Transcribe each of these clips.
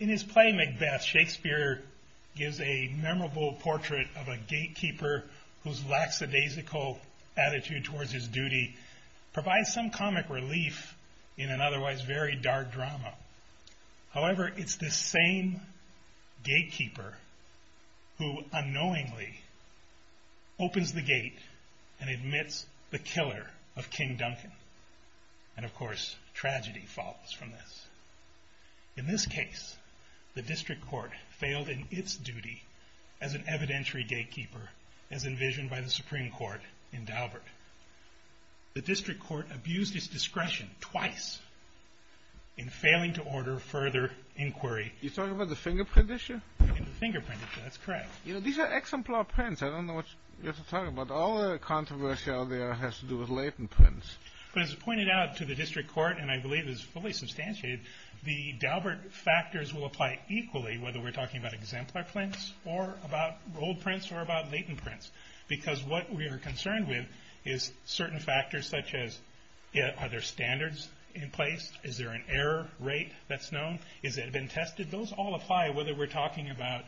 In his play Macbeth, Shakespeare gives a memorable portrait of a gatekeeper whose lackadaisical attitude towards his duty provides some comic relief in an otherwise very dark drama. However, it's the same gatekeeper who unknowingly opens the gate and admits the killer of King Duncan. And of course, tragedy follows from this. In this case, the District Court failed in its dismissal of the gatekeeper as envisioned by the Supreme Court in Daubert. The District Court abused its discretion twice in failing to order further inquiry. You're talking about the fingerprint issue? The fingerprint issue, that's correct. These are exemplar prints. I don't know what you're talking about. All the controversy out there has to do with latent prints. But as pointed out to the District Court, and I believe is fully clear about latent prints, because what we are concerned with is certain factors such as are there standards in place? Is there an error rate that's known? Is it been tested? Those all apply whether we're talking about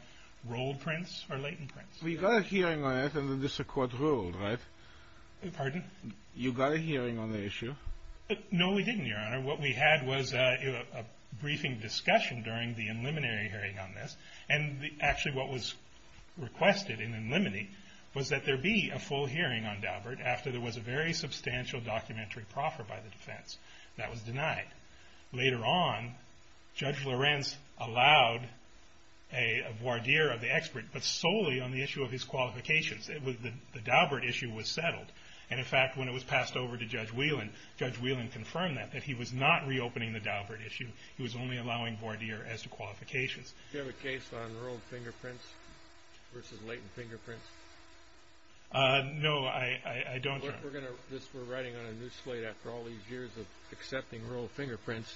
rolled prints or latent prints. You got a hearing on it and the District Court ruled, right? Pardon? You got a hearing on the issue? No, we didn't, Your Honor. What we had was a briefing discussion during the preliminary hearing on this. And actually what was requested in the preliminary was that there be a full hearing on Daubert after there was a very substantial documentary proffer by the defense. That was denied. Later on, Judge Lorenz allowed a voir dire of the expert, but solely on the issue of his qualifications. The Daubert issue was settled. And in fact, when it was settled, Judge Whelan confirmed that, that he was not reopening the Daubert issue. He was only allowing voir dire as to qualifications. Do you have a case on rolled fingerprints versus latent fingerprints? No, I don't, Your Honor. Look, we're writing on a new slate after all these years of accepting rolled fingerprints.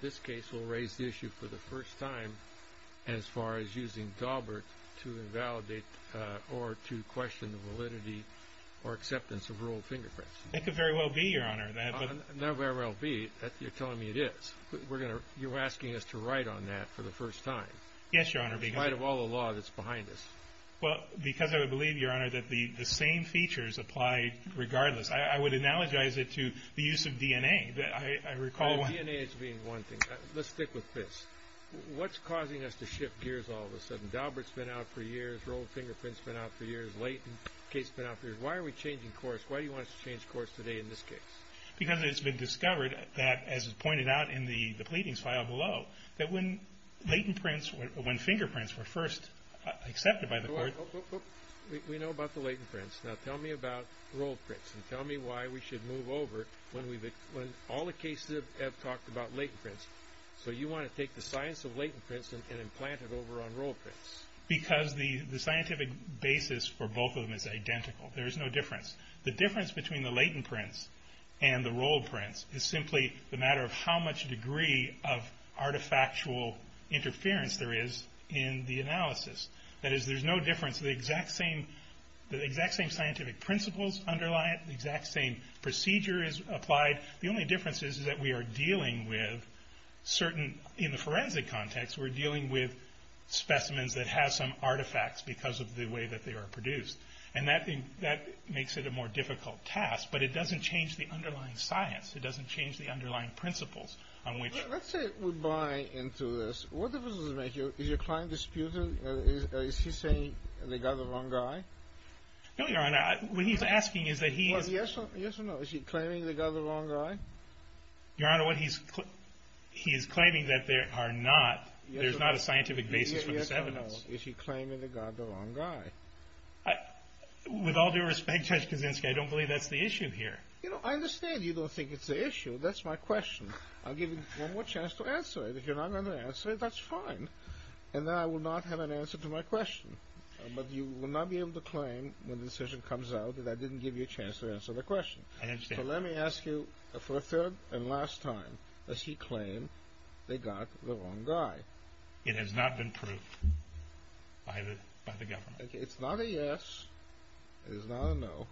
This case will raise the issue for the first time as far as using Daubert to invalidate or to question the validity or acceptance of rolled fingerprints. That could very well be, Your Honor. Not very well be. You're telling me it is. You're asking us to write on that for the first time. Yes, Your Honor. In spite of all the law that's behind us. Well, because I would believe, Your Honor, that the same features apply regardless. I would analogize it to the use of DNA. DNA as being one thing. Let's stick with this. What's causing us to shift gears all of a sudden? Daubert's been out for years. Rolled Because it's been discovered that, as is pointed out in the pleadings file below, that when latent prints, when fingerprints were first accepted by the court. We know about the latent prints. Now tell me about rolled prints and tell me why we should move over when all the cases have talked about latent prints. So you want to take the science of latent prints and implant it over on rolled prints. Because the scientific basis for both of them is identical. There is no difference. The difference between the latent prints and the rolled prints is simply the matter of how much degree of artifactual interference there is in the analysis. That is, there's no difference. The exact same scientific principles underlie it. The exact same procedure is applied. The only difference is that we are dealing with certain, in the forensic context, we're dealing with specimens that have some artifacts because of the way that they are produced. And that makes it a more difficult task. But it doesn't change the underlying science. It doesn't change the underlying principles. Let's say we buy into this. What difference does it make? Is your client disputing? Is he saying they got the wrong guy? No, Your Honor. What he's asking is that he is... Well, yes or no? Is he claiming they got the wrong guy? Your Honor, what he's... he is claiming that there are not... there's not a scientific basis for this evidence. Yes or no? Is he claiming they got the wrong guy? With all due respect, Judge Kaczynski, I don't believe that's the issue here. You know, I understand you don't think it's the issue. That's my question. I'll give you one more chance to answer it. If you're not going to answer it, that's fine. And then I will not have an answer to my question. But you will not be able to claim when the decision comes out that I didn't give you a chance to answer the question. I understand. So let me ask you for a third and last time. Does he claim they got the wrong guy? It has not been proved by the government. It's not a yes. It is not a no.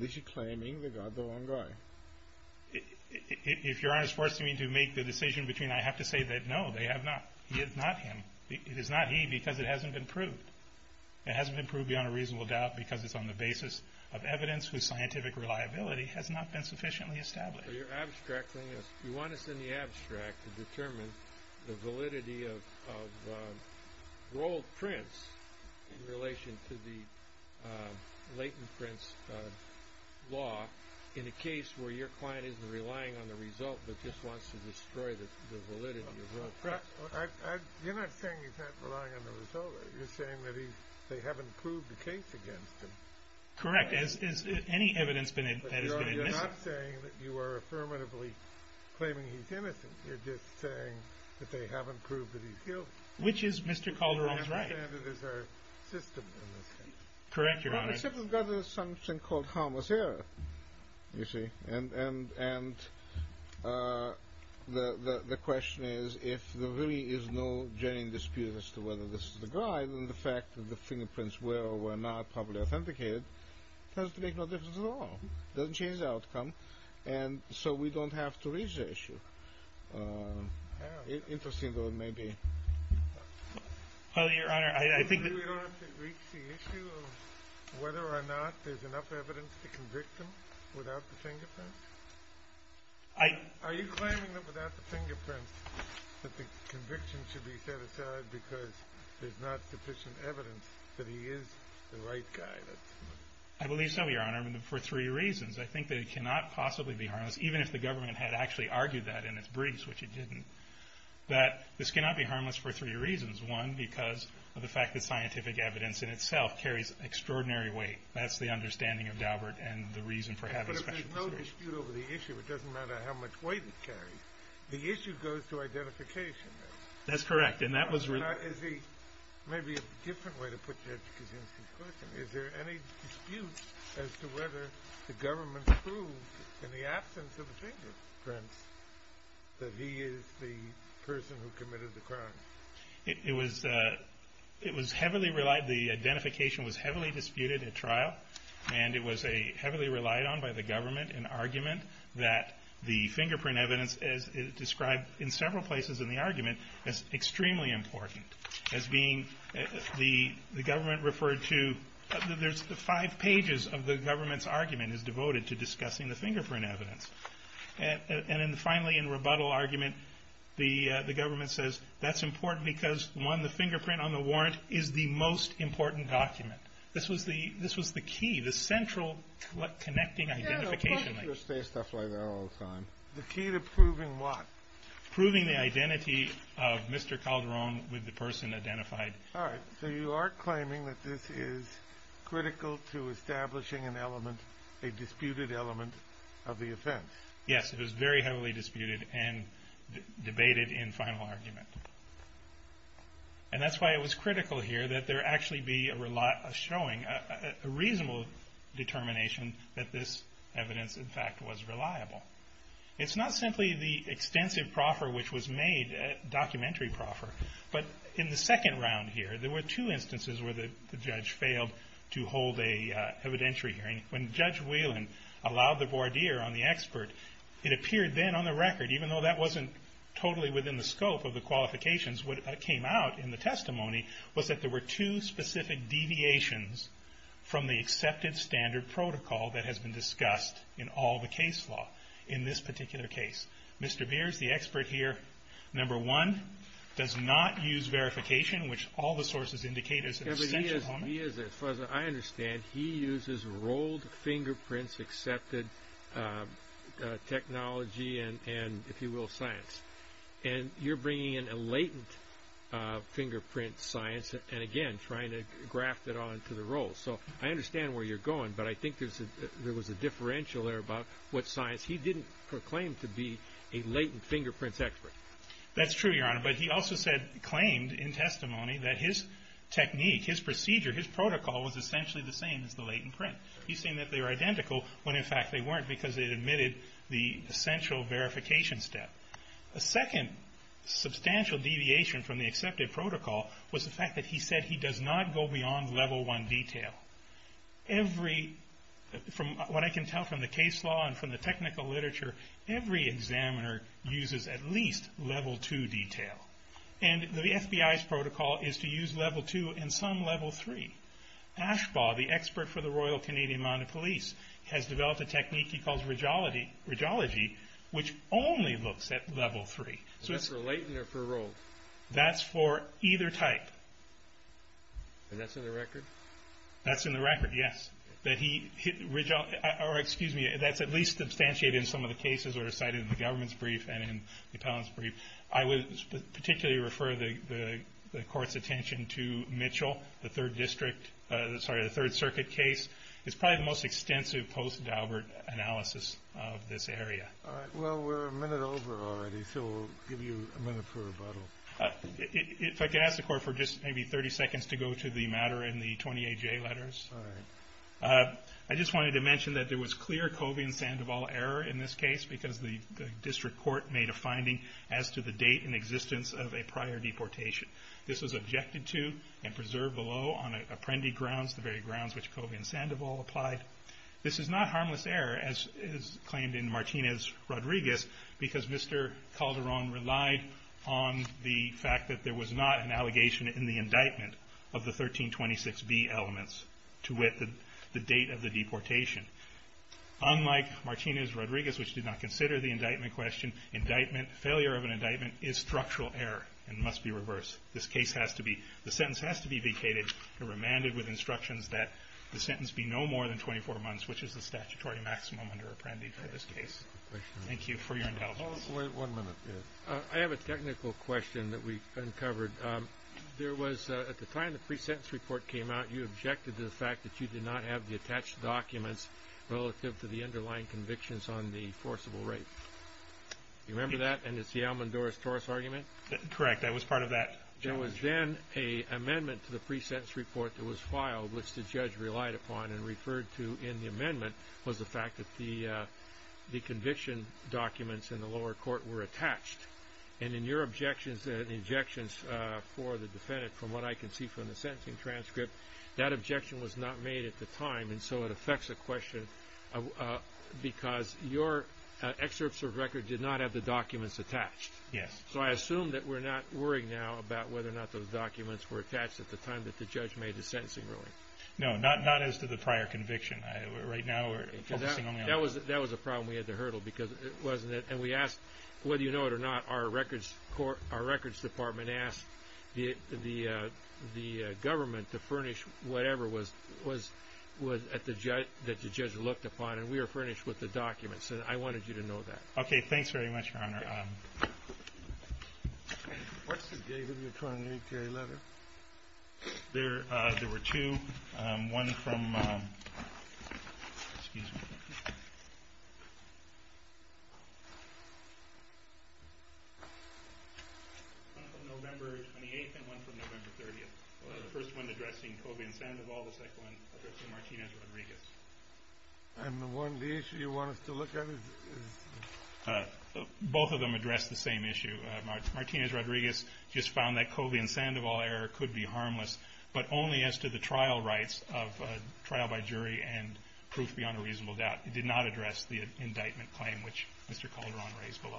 Is he claiming they got the wrong guy? If Your Honor is forcing me to make the decision between I have to say that no, they have not. It is not him. It is not he because it hasn't been proved. It hasn't been proved beyond a reasonable doubt because it's on the basis of evidence whose scientific reliability has not been sufficiently established. So you're abstracting this. You want us in the abstract to determine the validity of Roald Prince in relation to the Leighton-Prince law in a case where your client isn't relying on the result but just wants to destroy the validity of Roald Prince. You're not saying he's not relying on the result. You're saying that they haven't proved the case against him. Correct. Has any evidence been admitted? You're not saying that you are affirmatively claiming he's innocent. You're just saying that they haven't proved that he's guilty. Which is Mr. Calderon's right. There's a system in this case. Correct, Your Honor. Except we've got something called harmless error, you see, and the question is if there really is no genuine dispute as to whether this is the guy, other than the fact that the fingerprints were or were not publicly authenticated, it doesn't make no difference at all. It doesn't change the outcome, and so we don't have to reach the issue. Interesting though it may be. Your Honor, I think that... You think we don't have to reach the issue of whether or not there's enough evidence to convict him without the fingerprints? Are you claiming that without the fingerprints that the conviction should be set aside because there's not sufficient evidence that he is the right guy? I believe so, Your Honor, for three reasons. I think that it cannot possibly be harmless, even if the government had actually argued that in its briefs, which it didn't, that this cannot be harmless for three reasons. One, because of the fact that scientific evidence in itself carries extraordinary weight. That's the understanding of Daubert, and the reason for having special consideration. But if there's no dispute over the issue, it doesn't matter how much weight it carries. The issue goes to identification, though. That's correct, and that was... Now, is he... maybe a different way to put that, because that's the question. Is there any dispute as to whether the government proved, in the absence of the fingerprints, that he is the person who committed the crime? It was heavily relied... the identification was heavily disputed at trial, and it was heavily relied on by the government, an argument that the fingerprint evidence, as described in several places in the argument, is extremely important. As being... the government referred to... there's five pages of the government's argument is devoted to discussing the fingerprint evidence. And then finally, in rebuttal argument, the government says, that's important because, one, the fingerprint on the warrant is the most important document. This was the key, the central connecting identification link. You say stuff like that all the time. The key to proving what? Proving the identity of Mr. Calderon with the person identified. All right, so you are claiming that this is critical to establishing an element, a disputed element, of the offense. Yes, it was very heavily disputed and debated in final argument. And that's why it was critical here that there actually be a showing, a reasonable determination, that this evidence, in fact, was reliable. It's not simply the extensive proffer which was made, a documentary proffer, but in the second round here, there were two instances where the judge failed to hold an evidentiary hearing. When Judge Whelan allowed the voir dire on the expert, it appeared then on the record, even though that wasn't totally within the scope of the qualifications, what came out in the testimony was that there were two specific deviations from the accepted standard protocol that has been discussed in all the case law in this particular case. Mr. Beers, the expert here, number one, does not use verification, which all the sources indicate is an essential element. As far as I understand, he uses rolled fingerprints, accepted technology and, if you will, science. And you're bringing in a latent fingerprint science and, again, trying to graft it onto the roll. So I understand where you're going, but I think there was a differential there about what science. He didn't proclaim to be a latent fingerprints expert. That's true, Your Honor, but he also claimed in testimony that his technique, his procedure, his protocol was essentially the same as the latent print. He's saying that they're identical when, in fact, they weren't because it admitted the essential verification step. A second substantial deviation from the accepted protocol was the fact that he said he does not go beyond level one detail. From what I can tell from the case law and from the technical literature, every examiner uses at least level two detail. And the FBI's protocol is to use level two and some level three. Ashbaugh, the expert for the Royal Canadian Mounted Police, has developed a technique he calls ridgeology, which only looks at level three. Is that for latent or for rolled? That's for either type. And that's on the record? That's in the record, yes. That's at least substantiated in some of the cases that are cited in the government's brief and in the appellant's brief. I would particularly refer the Court's attention to Mitchell, the Third Circuit case. It's probably the most extensive post-Daubert analysis of this area. All right. Well, we're a minute over already, so we'll give you a minute for rebuttal. If I could ask the Court for just maybe 30 seconds to go to the matter in the 20-AJ letters. All right. I just wanted to mention that there was clear Covey and Sandoval error in this case, because the district court made a finding as to the date and existence of a prior deportation. This was objected to and preserved below on apprendee grounds, the very grounds which Covey and Sandoval applied. This is not harmless error, as claimed in Martinez-Rodriguez, because Mr. Calderon relied on the fact that there was not an allegation in the indictment of the 1326B elements to wit the date of the deportation. Unlike Martinez-Rodriguez, which did not consider the indictment question, failure of an indictment is structural error and must be reversed. The sentence has to be vacated and remanded with instructions that the sentence be no more than 24 months, which is the statutory maximum under apprendee for this case. Thank you for your indulgence. One minute. I have a technical question that we uncovered. At the time the pre-sentence report came out, you objected to the fact that you did not have the attached documents relative to the underlying convictions on the forcible rape. Do you remember that? And it's the Almendora's Torus argument? Correct. That was part of that? There was then an amendment to the pre-sentence report that was filed, which the judge relied upon and referred to in the amendment, was the fact that the conviction documents in the lower court were attached. And in your objections and the objections for the defendant, from what I can see from the sentencing transcript, that objection was not made at the time, and so it affects the question because your excerpts of record did not have the documents attached. Yes. So I assume that we're not worrying now about whether or not those documents were attached at the time that the judge made the sentencing ruling. No, not as to the prior conviction. Right now we're focusing only on the court. That was a problem we had to hurdle because it wasn't it. And we asked, whether you know it or not, our records department asked the government to furnish whatever the judge looked upon, and we were furnished with the documents, and I wanted you to know that. Okay, thanks very much, Your Honor. What's the date of your current E.T.A. letter? There were two. One from November 28th and one from November 30th. The first one addressing Colvin Sandoval. The second one addressing Martinez Rodriguez. And the issue you want us to look at is? Both of them address the same issue. Martinez Rodriguez just found that Colvin Sandoval error could be harmless, but only as to the trial rights of trial by jury and proof beyond a reasonable doubt. It did not address the indictment claim, which Mr. Calderon raised below.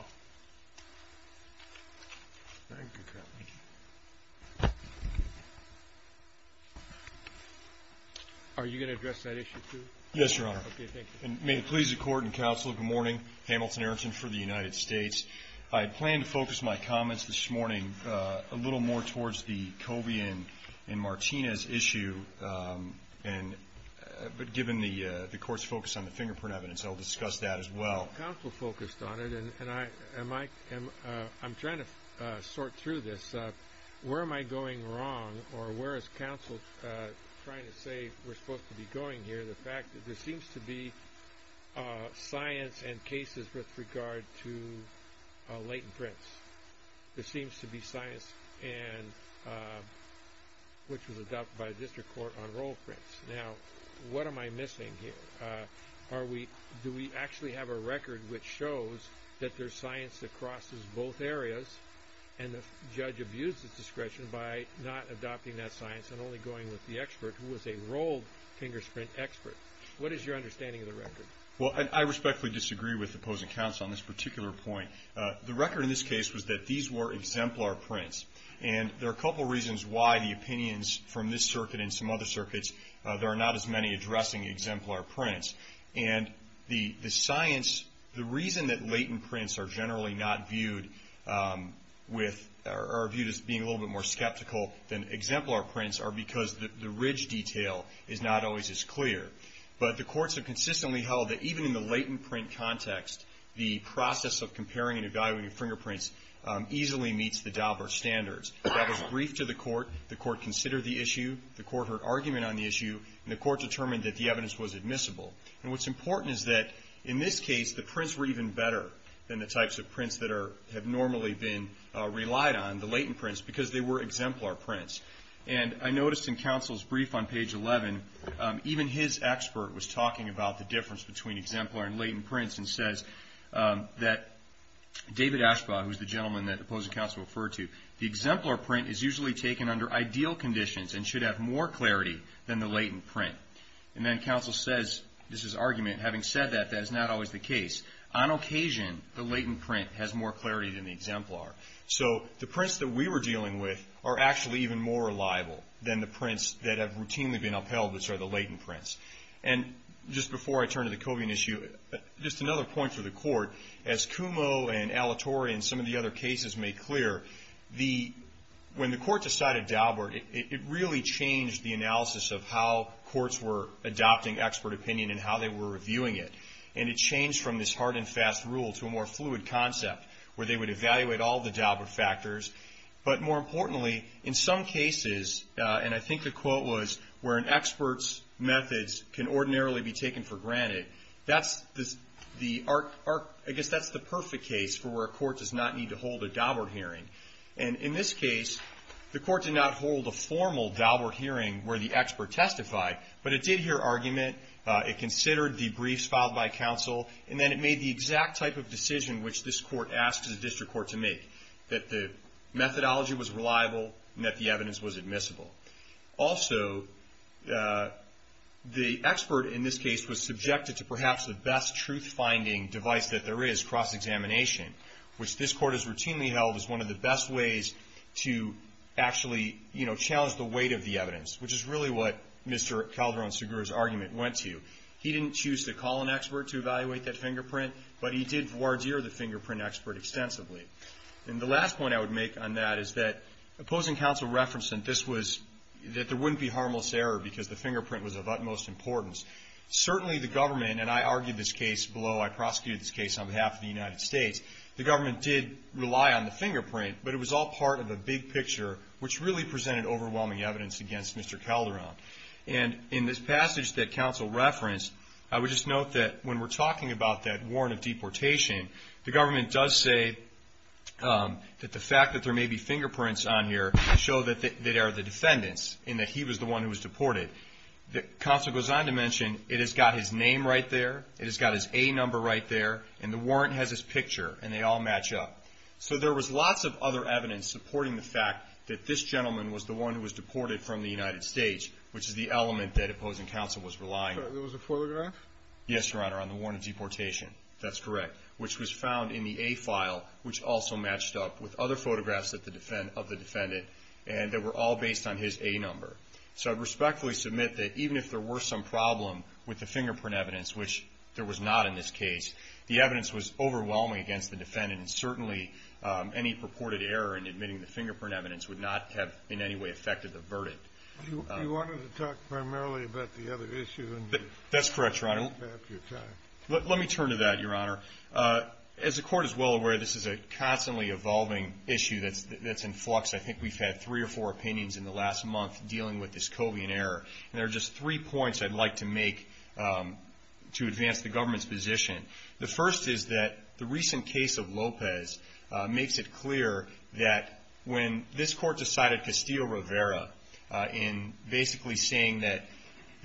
Thank you, Captain. Are you going to address that issue, too? Yes, Your Honor. Okay, thank you. And may it please the Court and Counsel, good morning. Hamilton Ayrton for the United States. I plan to focus my comments this morning a little more towards the Colvin and Martinez issue, but given the Court's focus on the fingerprint evidence, I'll discuss that as well. Counsel focused on it, and I'm trying to sort through this. Where am I going wrong, or where is counsel trying to say we're supposed to be going here? I'm trying to get to the fact that there seems to be science and cases with regard to latent prints. There seems to be science, which was adopted by the district court, on roll prints. Now, what am I missing here? Do we actually have a record which shows that there's science that crosses both areas, and the judge abused his discretion by not adopting that science and only going with the expert who was a rolled fingerprint expert? What is your understanding of the record? Well, I respectfully disagree with the opposing counsel on this particular point. The record in this case was that these were exemplar prints, and there are a couple of reasons why the opinions from this circuit and some other circuits, there are not as many addressing exemplar prints. And the science, the reason that latent prints are generally not viewed with or viewed as being a little bit more skeptical than exemplar prints are because the ridge detail is not always as clear. But the courts have consistently held that even in the latent print context, the process of comparing and evaluating fingerprints easily meets the Daubert standards. That was briefed to the court. The court considered the issue. The court heard argument on the issue, and the court determined that the evidence was admissible. And what's important is that in this case, the prints were even better than the types of prints that have normally been relied on, the latent prints, because they were exemplar prints. And I noticed in counsel's brief on page 11, even his expert was talking about the difference between exemplar and latent prints and says that David Ashbaugh, who's the gentleman that the opposing counsel referred to, the exemplar print is usually taken under ideal conditions and should have more clarity than the latent print. And then counsel says, this is argument, having said that, that is not always the case. On occasion, the latent print has more clarity than the exemplar. So the prints that we were dealing with are actually even more reliable than the prints that have routinely been upheld, which are the latent prints. And just before I turn to the Cobian issue, just another point for the court. As Kumo and Alatorre and some of the other cases made clear, when the court decided Daubert, it really changed the analysis of how courts were adopting expert opinion and how they were reviewing it. And it changed from this hard and fast rule to a more fluid concept where they would evaluate all the Daubert factors. But more importantly, in some cases, and I think the quote was, where an expert's methods can ordinarily be taken for granted, I guess that's the perfect case for where a court does not need to hold a Daubert hearing. And in this case, the court did not hold a formal Daubert hearing where the expert testified, but it did hear argument, it considered the briefs filed by counsel, and then it made the exact type of decision which this court asked the district court to make, that the methodology was reliable and that the evidence was admissible. Also, the expert, in this case, was subjected to perhaps the best truth-finding device that there is, cross-examination, which this court has routinely held as one of the best ways to actually challenge the weight of the evidence, which is really what Mr. Calderon-Segura's argument went to. He didn't choose to call an expert to evaluate that fingerprint, but he did voir dire the fingerprint expert extensively. And the last point I would make on that is that opposing counsel referenced that there wouldn't be harmless error because the fingerprint was of utmost importance. Certainly the government, and I argued this case below, I prosecuted this case on behalf of the United States, the government did rely on the fingerprint, but it was all part of a big picture, which really presented overwhelming evidence against Mr. Calderon. And in this passage that counsel referenced, I would just note that when we're talking about that warrant of deportation, the government does say that the fact that there may be fingerprints on here to show that they are the defendant's and that he was the one who was deported. Counsel goes on to mention it has got his name right there, it has got his A number right there, and the warrant has his picture, and they all match up. So there was lots of other evidence supporting the fact that this gentleman was the one who was deported from the United States, which is the element that opposing counsel was relying on. There was a photograph? Yes, Your Honor, on the warrant of deportation. That's correct, which was found in the A file, which also matched up with other photographs of the defendant, and they were all based on his A number. So I'd respectfully submit that even if there were some problem with the fingerprint evidence, which there was not in this case, the evidence was overwhelming against the defendant, and certainly any purported error in admitting the fingerprint evidence would not have in any way affected the verdict. You wanted to talk primarily about the other issue. That's correct, Your Honor. Let me turn to that, Your Honor. As the Court is well aware, this is a constantly evolving issue that's in flux. I think we've had three or four opinions in the last month dealing with this Covian error, and there are just three points I'd like to make to advance the government's position. The first is that the recent case of Lopez makes it clear that when this Court decided Castillo-Rivera in basically saying that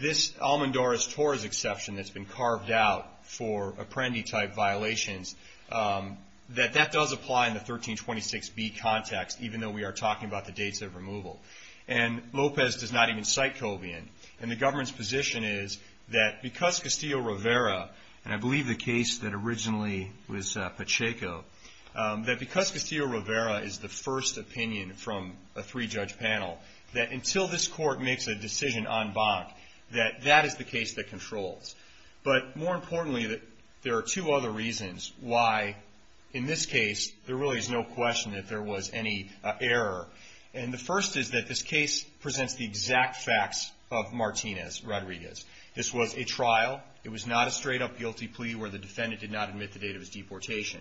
this Almendores-Torres exception that's been carved out for Apprendi-type violations, that that does apply in the 1326B context, even though we are talking about the dates of removal. And Lopez does not even cite Covian, and the government's position is that because Castillo-Rivera, and I believe the case that originally was Pacheco, that because Castillo-Rivera is the first opinion from a three-judge panel, that until this Court makes a decision en banc, that that is the case that controls. But more importantly, there are two other reasons why in this case there really is no question that there was any error. And the first is that this case presents the exact facts of Martinez-Rodriguez. This was a trial. It was not a straight-up guilty plea where the defendant did not admit the date of his deportation.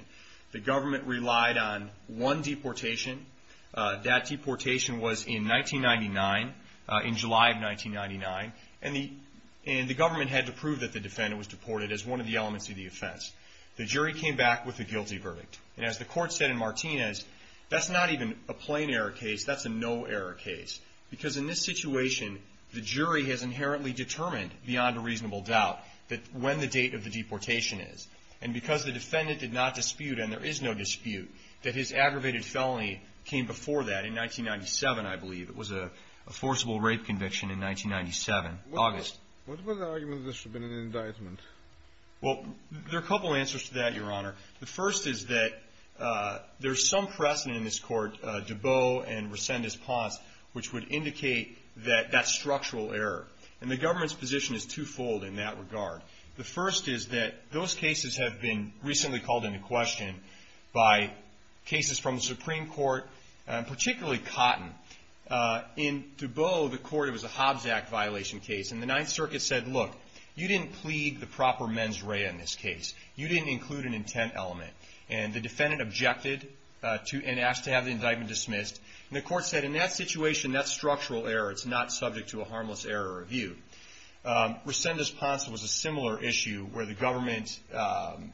The government relied on one deportation. That deportation was in 1999, in July of 1999. And the government had to prove that the defendant was deported as one of the elements of the offense. The jury came back with a guilty verdict. And as the Court said in Martinez, that's not even a plain error case. That's a no-error case. Because in this situation, the jury has inherently determined, beyond a reasonable doubt, that when the date of the deportation is. And because the defendant did not dispute, and there is no dispute, that his aggravated felony came before that in 1997, I believe. It was a forcible rape conviction in 1997, August. What was the argument that this should have been an indictment? Well, there are a couple answers to that, Your Honor. The first is that there's some precedent in this Court, Dubot and Resendez-Ponce, which would indicate that that's structural error. And the government's position is twofold in that regard. The first is that those cases have been recently called into question by cases from the Supreme Court, particularly Cotton. In Dubot, the court, it was a Hobbs Act violation case. And the Ninth Circuit said, look, you didn't plead the proper mens rea in this case. You didn't include an intent element. And the defendant objected and asked to have the indictment dismissed. And the Court said, in that situation, that's structural error. It's not subject to a harmless error review. Resendez-Ponce was a similar issue where the government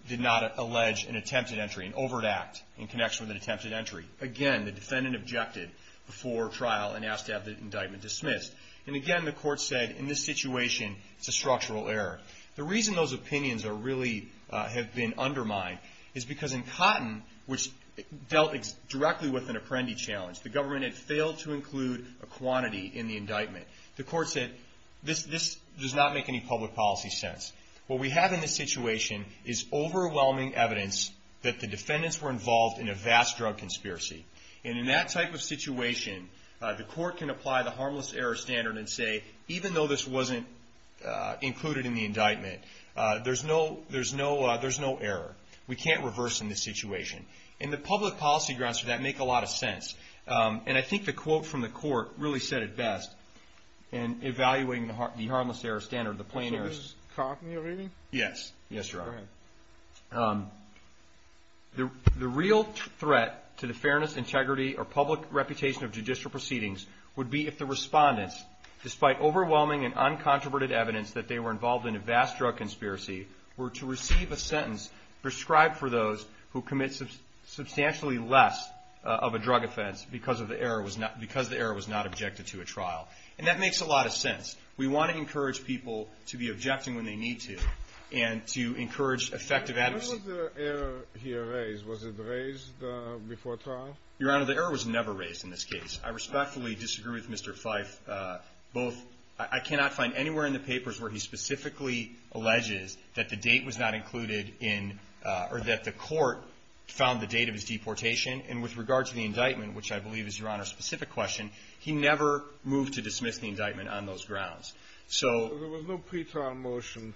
did not allege an attempted entry, an overt act, in connection with an attempted entry. Again, the defendant objected before trial and asked to have the indictment dismissed. And again, the Court said, in this situation, it's a structural error. The reason those opinions really have been undermined is because in Cotton, which dealt directly with an apprendee challenge, the government had failed to include a quantity in the indictment. The Court said, this does not make any public policy sense. What we have in this situation is overwhelming evidence that the defendants were involved in a vast drug conspiracy. And in that type of situation, the Court can apply the harmless error standard and say, even though this wasn't included in the indictment, there's no error. We can't reverse in this situation. And the public policy grounds for that make a lot of sense. And I think the quote from the Court really said it best in evaluating the harmless error standard, the plain errors. Is this in Cotton, your reading? Yes. Yes, Your Honor. Go ahead. The real threat to the fairness, integrity, or public reputation of judicial proceedings would be if the respondents, despite overwhelming and uncontroverted evidence that they were involved in a vast drug conspiracy, were to receive a sentence prescribed for those who commit substantially less of a drug offense because the error was not objected to a trial. And that makes a lot of sense. We want to encourage people to be objecting when they need to and to encourage effective advocacy. When was the error here raised? Was it raised before trial? Your Honor, the error was never raised in this case. I respectfully disagree with Mr. Fyfe. I cannot find anywhere in the papers where he specifically alleges that the date was not included in or that the Court found the date of his deportation. And with regard to the indictment, which I believe is, Your Honor, a specific question, he never moved to dismiss the indictment on those grounds. There was no pretrial motion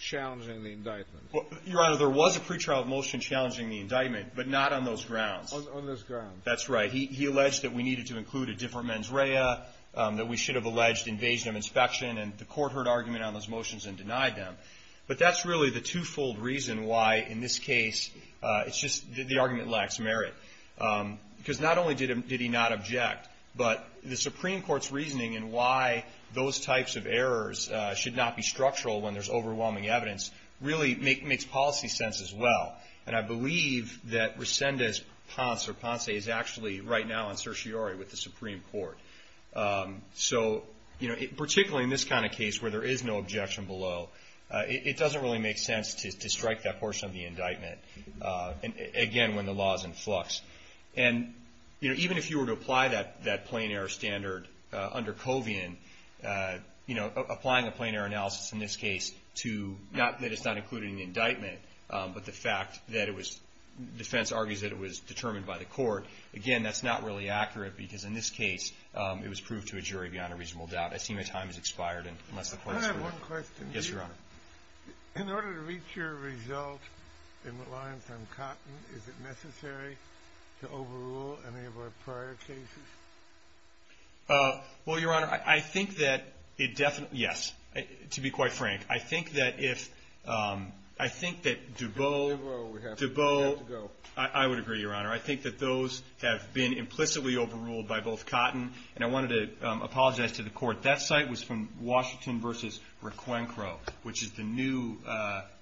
challenging the indictment. Your Honor, there was a pretrial motion challenging the indictment, but not on those grounds. On those grounds. That's right. He alleged that we needed to include a different mens rea, that we should have alleged invasion of inspection, and the Court heard argument on those motions and denied them. But that's really the twofold reason why, in this case, it's just the argument lacks merit. Because not only did he not object, but the Supreme Court's reasoning in why those types of errors should not be structural when there's overwhelming evidence really makes policy sense as well. And I believe that Resendez-Ponce, or Ponce, is actually right now on certiorari with the Supreme Court. So, you know, particularly in this kind of case where there is no objection below, it doesn't really make sense to strike that portion of the indictment, again, when the law is in flux. And, you know, even if you were to apply that plain error standard under Covian, you know, applying a plain error analysis in this case to not that it's not included in the indictment, but the fact that it was defense argues that it was determined by the court. Again, that's not really accurate because, in this case, it was proved to a jury beyond a reasonable doubt. I see my time has expired. I have one question. Yes, Your Honor. In order to reach your result in reliance on Cotton, is it necessary to overrule any of our prior cases? Well, Your Honor, I think that it definitely, yes. To be quite frank, I think that if, I think that Dubow, Dubow, I would agree, Your Honor. I think that those have been implicitly overruled by both Cotton. And I wanted to apologize to the court. That site was from Washington v. Requencro, which is the new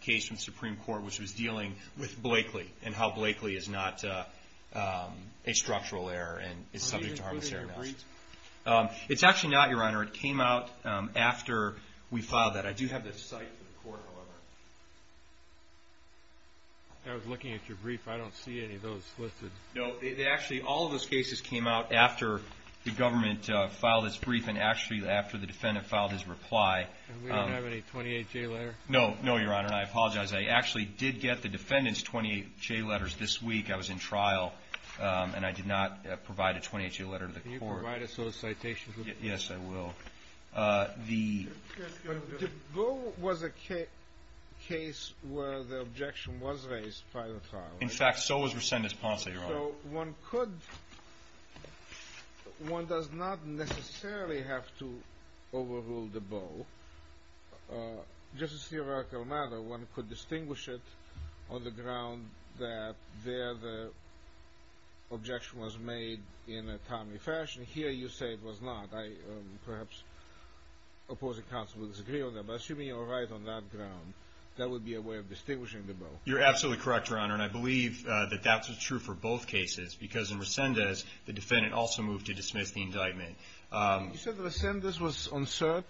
case from the Supreme Court, which was dealing with Blakely and how Blakely is not a structural error and is subject to harmless error analysis. It's actually not, Your Honor. It came out after we filed that. I do have the site for the court, however. I was looking at your brief. I don't see any of those listed. No. Actually, all of those cases came out after the government filed its brief and actually after the defendant filed his reply. And we didn't have any 28-J letter? No. No, Your Honor, and I apologize. I actually did get the defendant's 28-J letters this week. I was in trial, and I did not provide a 28-J letter to the court. Can you provide a solicitation? Yes, I will. The – But Dubow was a case where the objection was raised prior to trial. In fact, so was Resendez-Ponce, Your Honor. So one could – one does not necessarily have to overrule Dubow. Just as a theoretical matter, one could distinguish it on the ground that there the objection was made in a timely fashion. Here you say it was not. Perhaps opposing counsel would disagree on that. But assuming you're right on that ground, that would be a way of distinguishing Dubow. You're absolutely correct, Your Honor, and I believe that that's true for both cases because in Resendez the defendant also moved to dismiss the indictment. You said Resendez was on cert?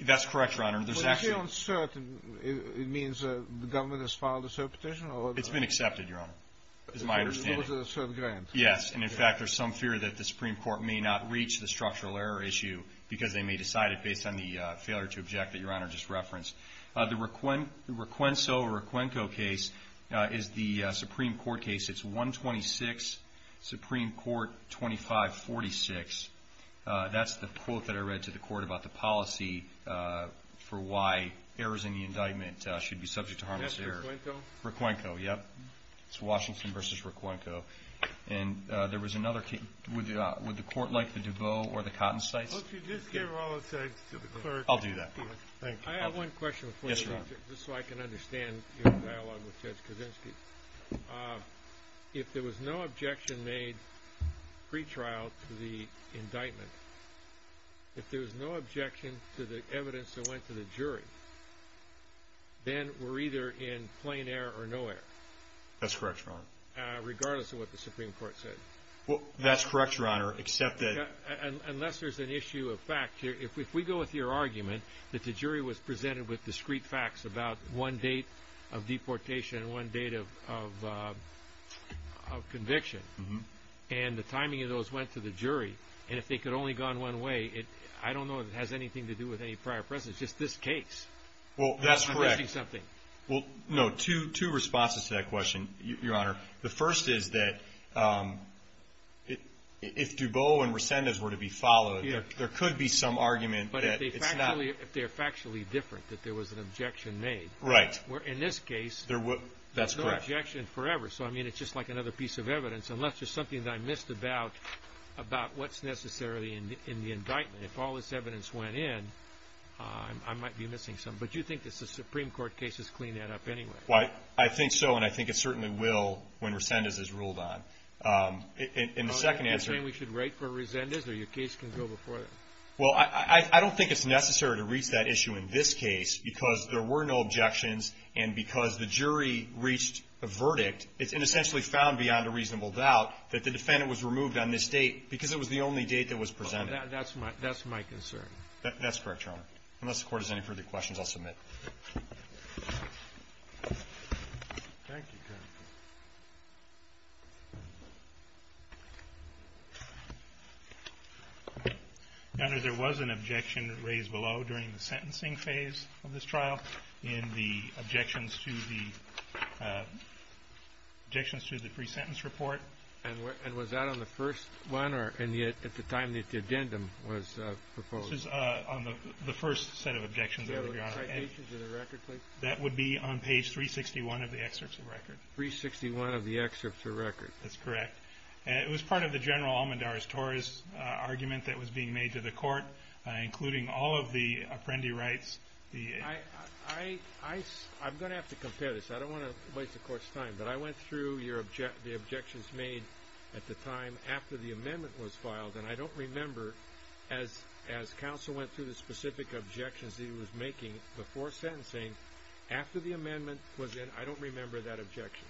That's correct, Your Honor. There's actually – When you say on cert, it means the government has filed a cert petition or – It's been accepted, Your Honor, is my understanding. It was a cert grant. Yes, and in fact, there's some fear that the Supreme Court may not reach the structural error issue because they may decide it based on the failure to object that Your Honor just referenced. The Requenco case is the Supreme Court case. It's 126 Supreme Court 2546. That's the quote that I read to the court about the policy for why errors in the indictment should be subject to harmless error. That's Requenco? Requenco, yes. It's Washington v. Requenco. And there was another case. Would the court like the Dubow or the Cotton sites? Well, if you just gave all the sites to the clerk. I'll do that. Thank you. I have one question. Yes, Your Honor. Just so I can understand your dialogue with Judge Kaczynski. If there was no objection made pre-trial to the indictment, if there was no objection to the evidence that went to the jury, then we're either in plain error or no error. That's correct, Your Honor. Regardless of what the Supreme Court said. That's correct, Your Honor, except that. Unless there's an issue of fact. If we go with your argument that the jury was presented with discrete facts about one date of deportation and one date of conviction, and the timing of those went to the jury, and if they could have only gone one way, I don't know if it has anything to do with any prior presence. It's just this case. Well, that's correct. I'm missing something. Well, no, two responses to that question, Your Honor. The first is that if Dubow and Resendez were to be followed, there could be some argument that it's not. If they're factually different, that there was an objection made. Right. In this case, there was no objection forever. So, I mean, it's just like another piece of evidence, unless there's something that I missed about what's necessarily in the indictment. If all this evidence went in, I might be missing something. But you think that the Supreme Court cases clean that up anyway? I think so, and I think it certainly will when Resendez is ruled on. In the second answer. Are you saying we should wait for Resendez or your case can go before that? Well, I don't think it's necessary to reach that issue in this case, because there were no objections, and because the jury reached a verdict, it's inessentially found beyond a reasonable doubt that the defendant was removed on this date because it was the only date that was presented. That's my concern. That's correct, Your Honor. Unless the Court has any further questions, I'll submit. Thank you, counsel. Your Honor, there was an objection raised below during the sentencing phase of this trial in the objections to the pre-sentence report. And was that on the first one, or at the time that the addendum was proposed? This is on the first set of objections, Your Honor. That would be on page 361 of the excerpt to record. 361 of the excerpt to record. That's correct. It was part of the general Almendar's-Torres argument that was being made to the Court, including all of the apprendee rights. I'm going to have to compare this. I don't want to waste the Court's time, but I went through the objections made at the time after the amendment was filed, and I don't remember, as counsel went through the specific objections that he was making before sentencing, after the amendment was in, I don't remember that objection.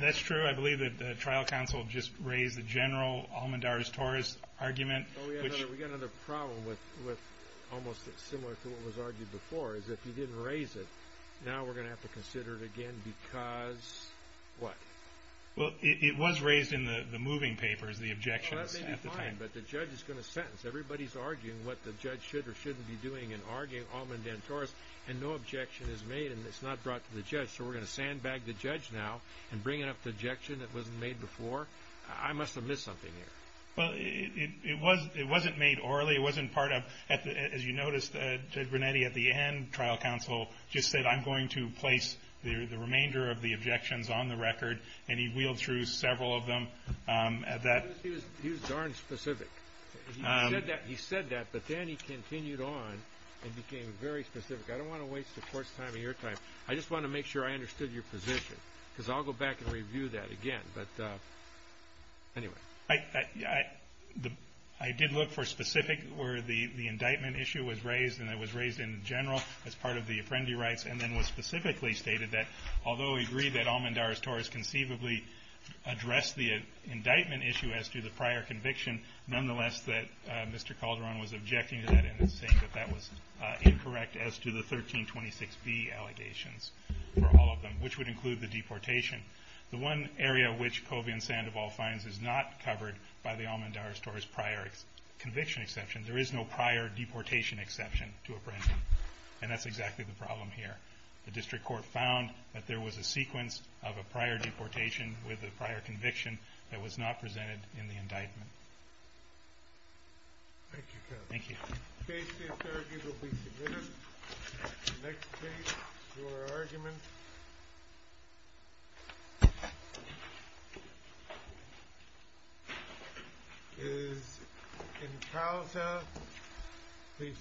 That's true. I believe that the trial counsel just raised the general Almendar's-Torres argument. Oh, yeah. We've got another problem with almost similar to what was argued before, is if you didn't raise it, now we're going to have to consider it again because what? Well, it was raised in the moving papers, the objections at the time. But the judge is going to sentence. Everybody is arguing what the judge should or shouldn't be doing in arguing Almendar's-Torres, and no objection is made, and it's not brought to the judge. So we're going to sandbag the judge now and bring up the objection that wasn't made before. I must have missed something here. Well, it wasn't made orally. It wasn't part of, as you noticed, Judge Brunetti at the end, trial counsel, just said, I'm going to place the remainder of the objections on the record, and he wheeled through several of them. He was darn specific. He said that, but then he continued on and became very specific. I don't want to waste the Court's time or your time. I just want to make sure I understood your position because I'll go back and review that again. But anyway. I did look for specific where the indictment issue was raised, and it was raised in general as part of the Apprendi rights and then was specifically stated that although we agree that Almendar's-Torres conceivably addressed the indictment issue as to the prior conviction, nonetheless that Mr. Calderon was objecting to that and was saying that that was incorrect as to the 1326B allegations for all of them, which would include the deportation. The one area which Covey and Sandoval finds is not covered by the Almendar-Torres prior conviction exception. There is no prior deportation exception to Apprendi, and that's exactly the problem here. The district court found that there was a sequence of a prior deportation with a prior conviction that was not presented in the indictment. Thank you, counsel. Thank you. The case is adjourned. It will be submitted. The next case for argument is in Couser v. Femby.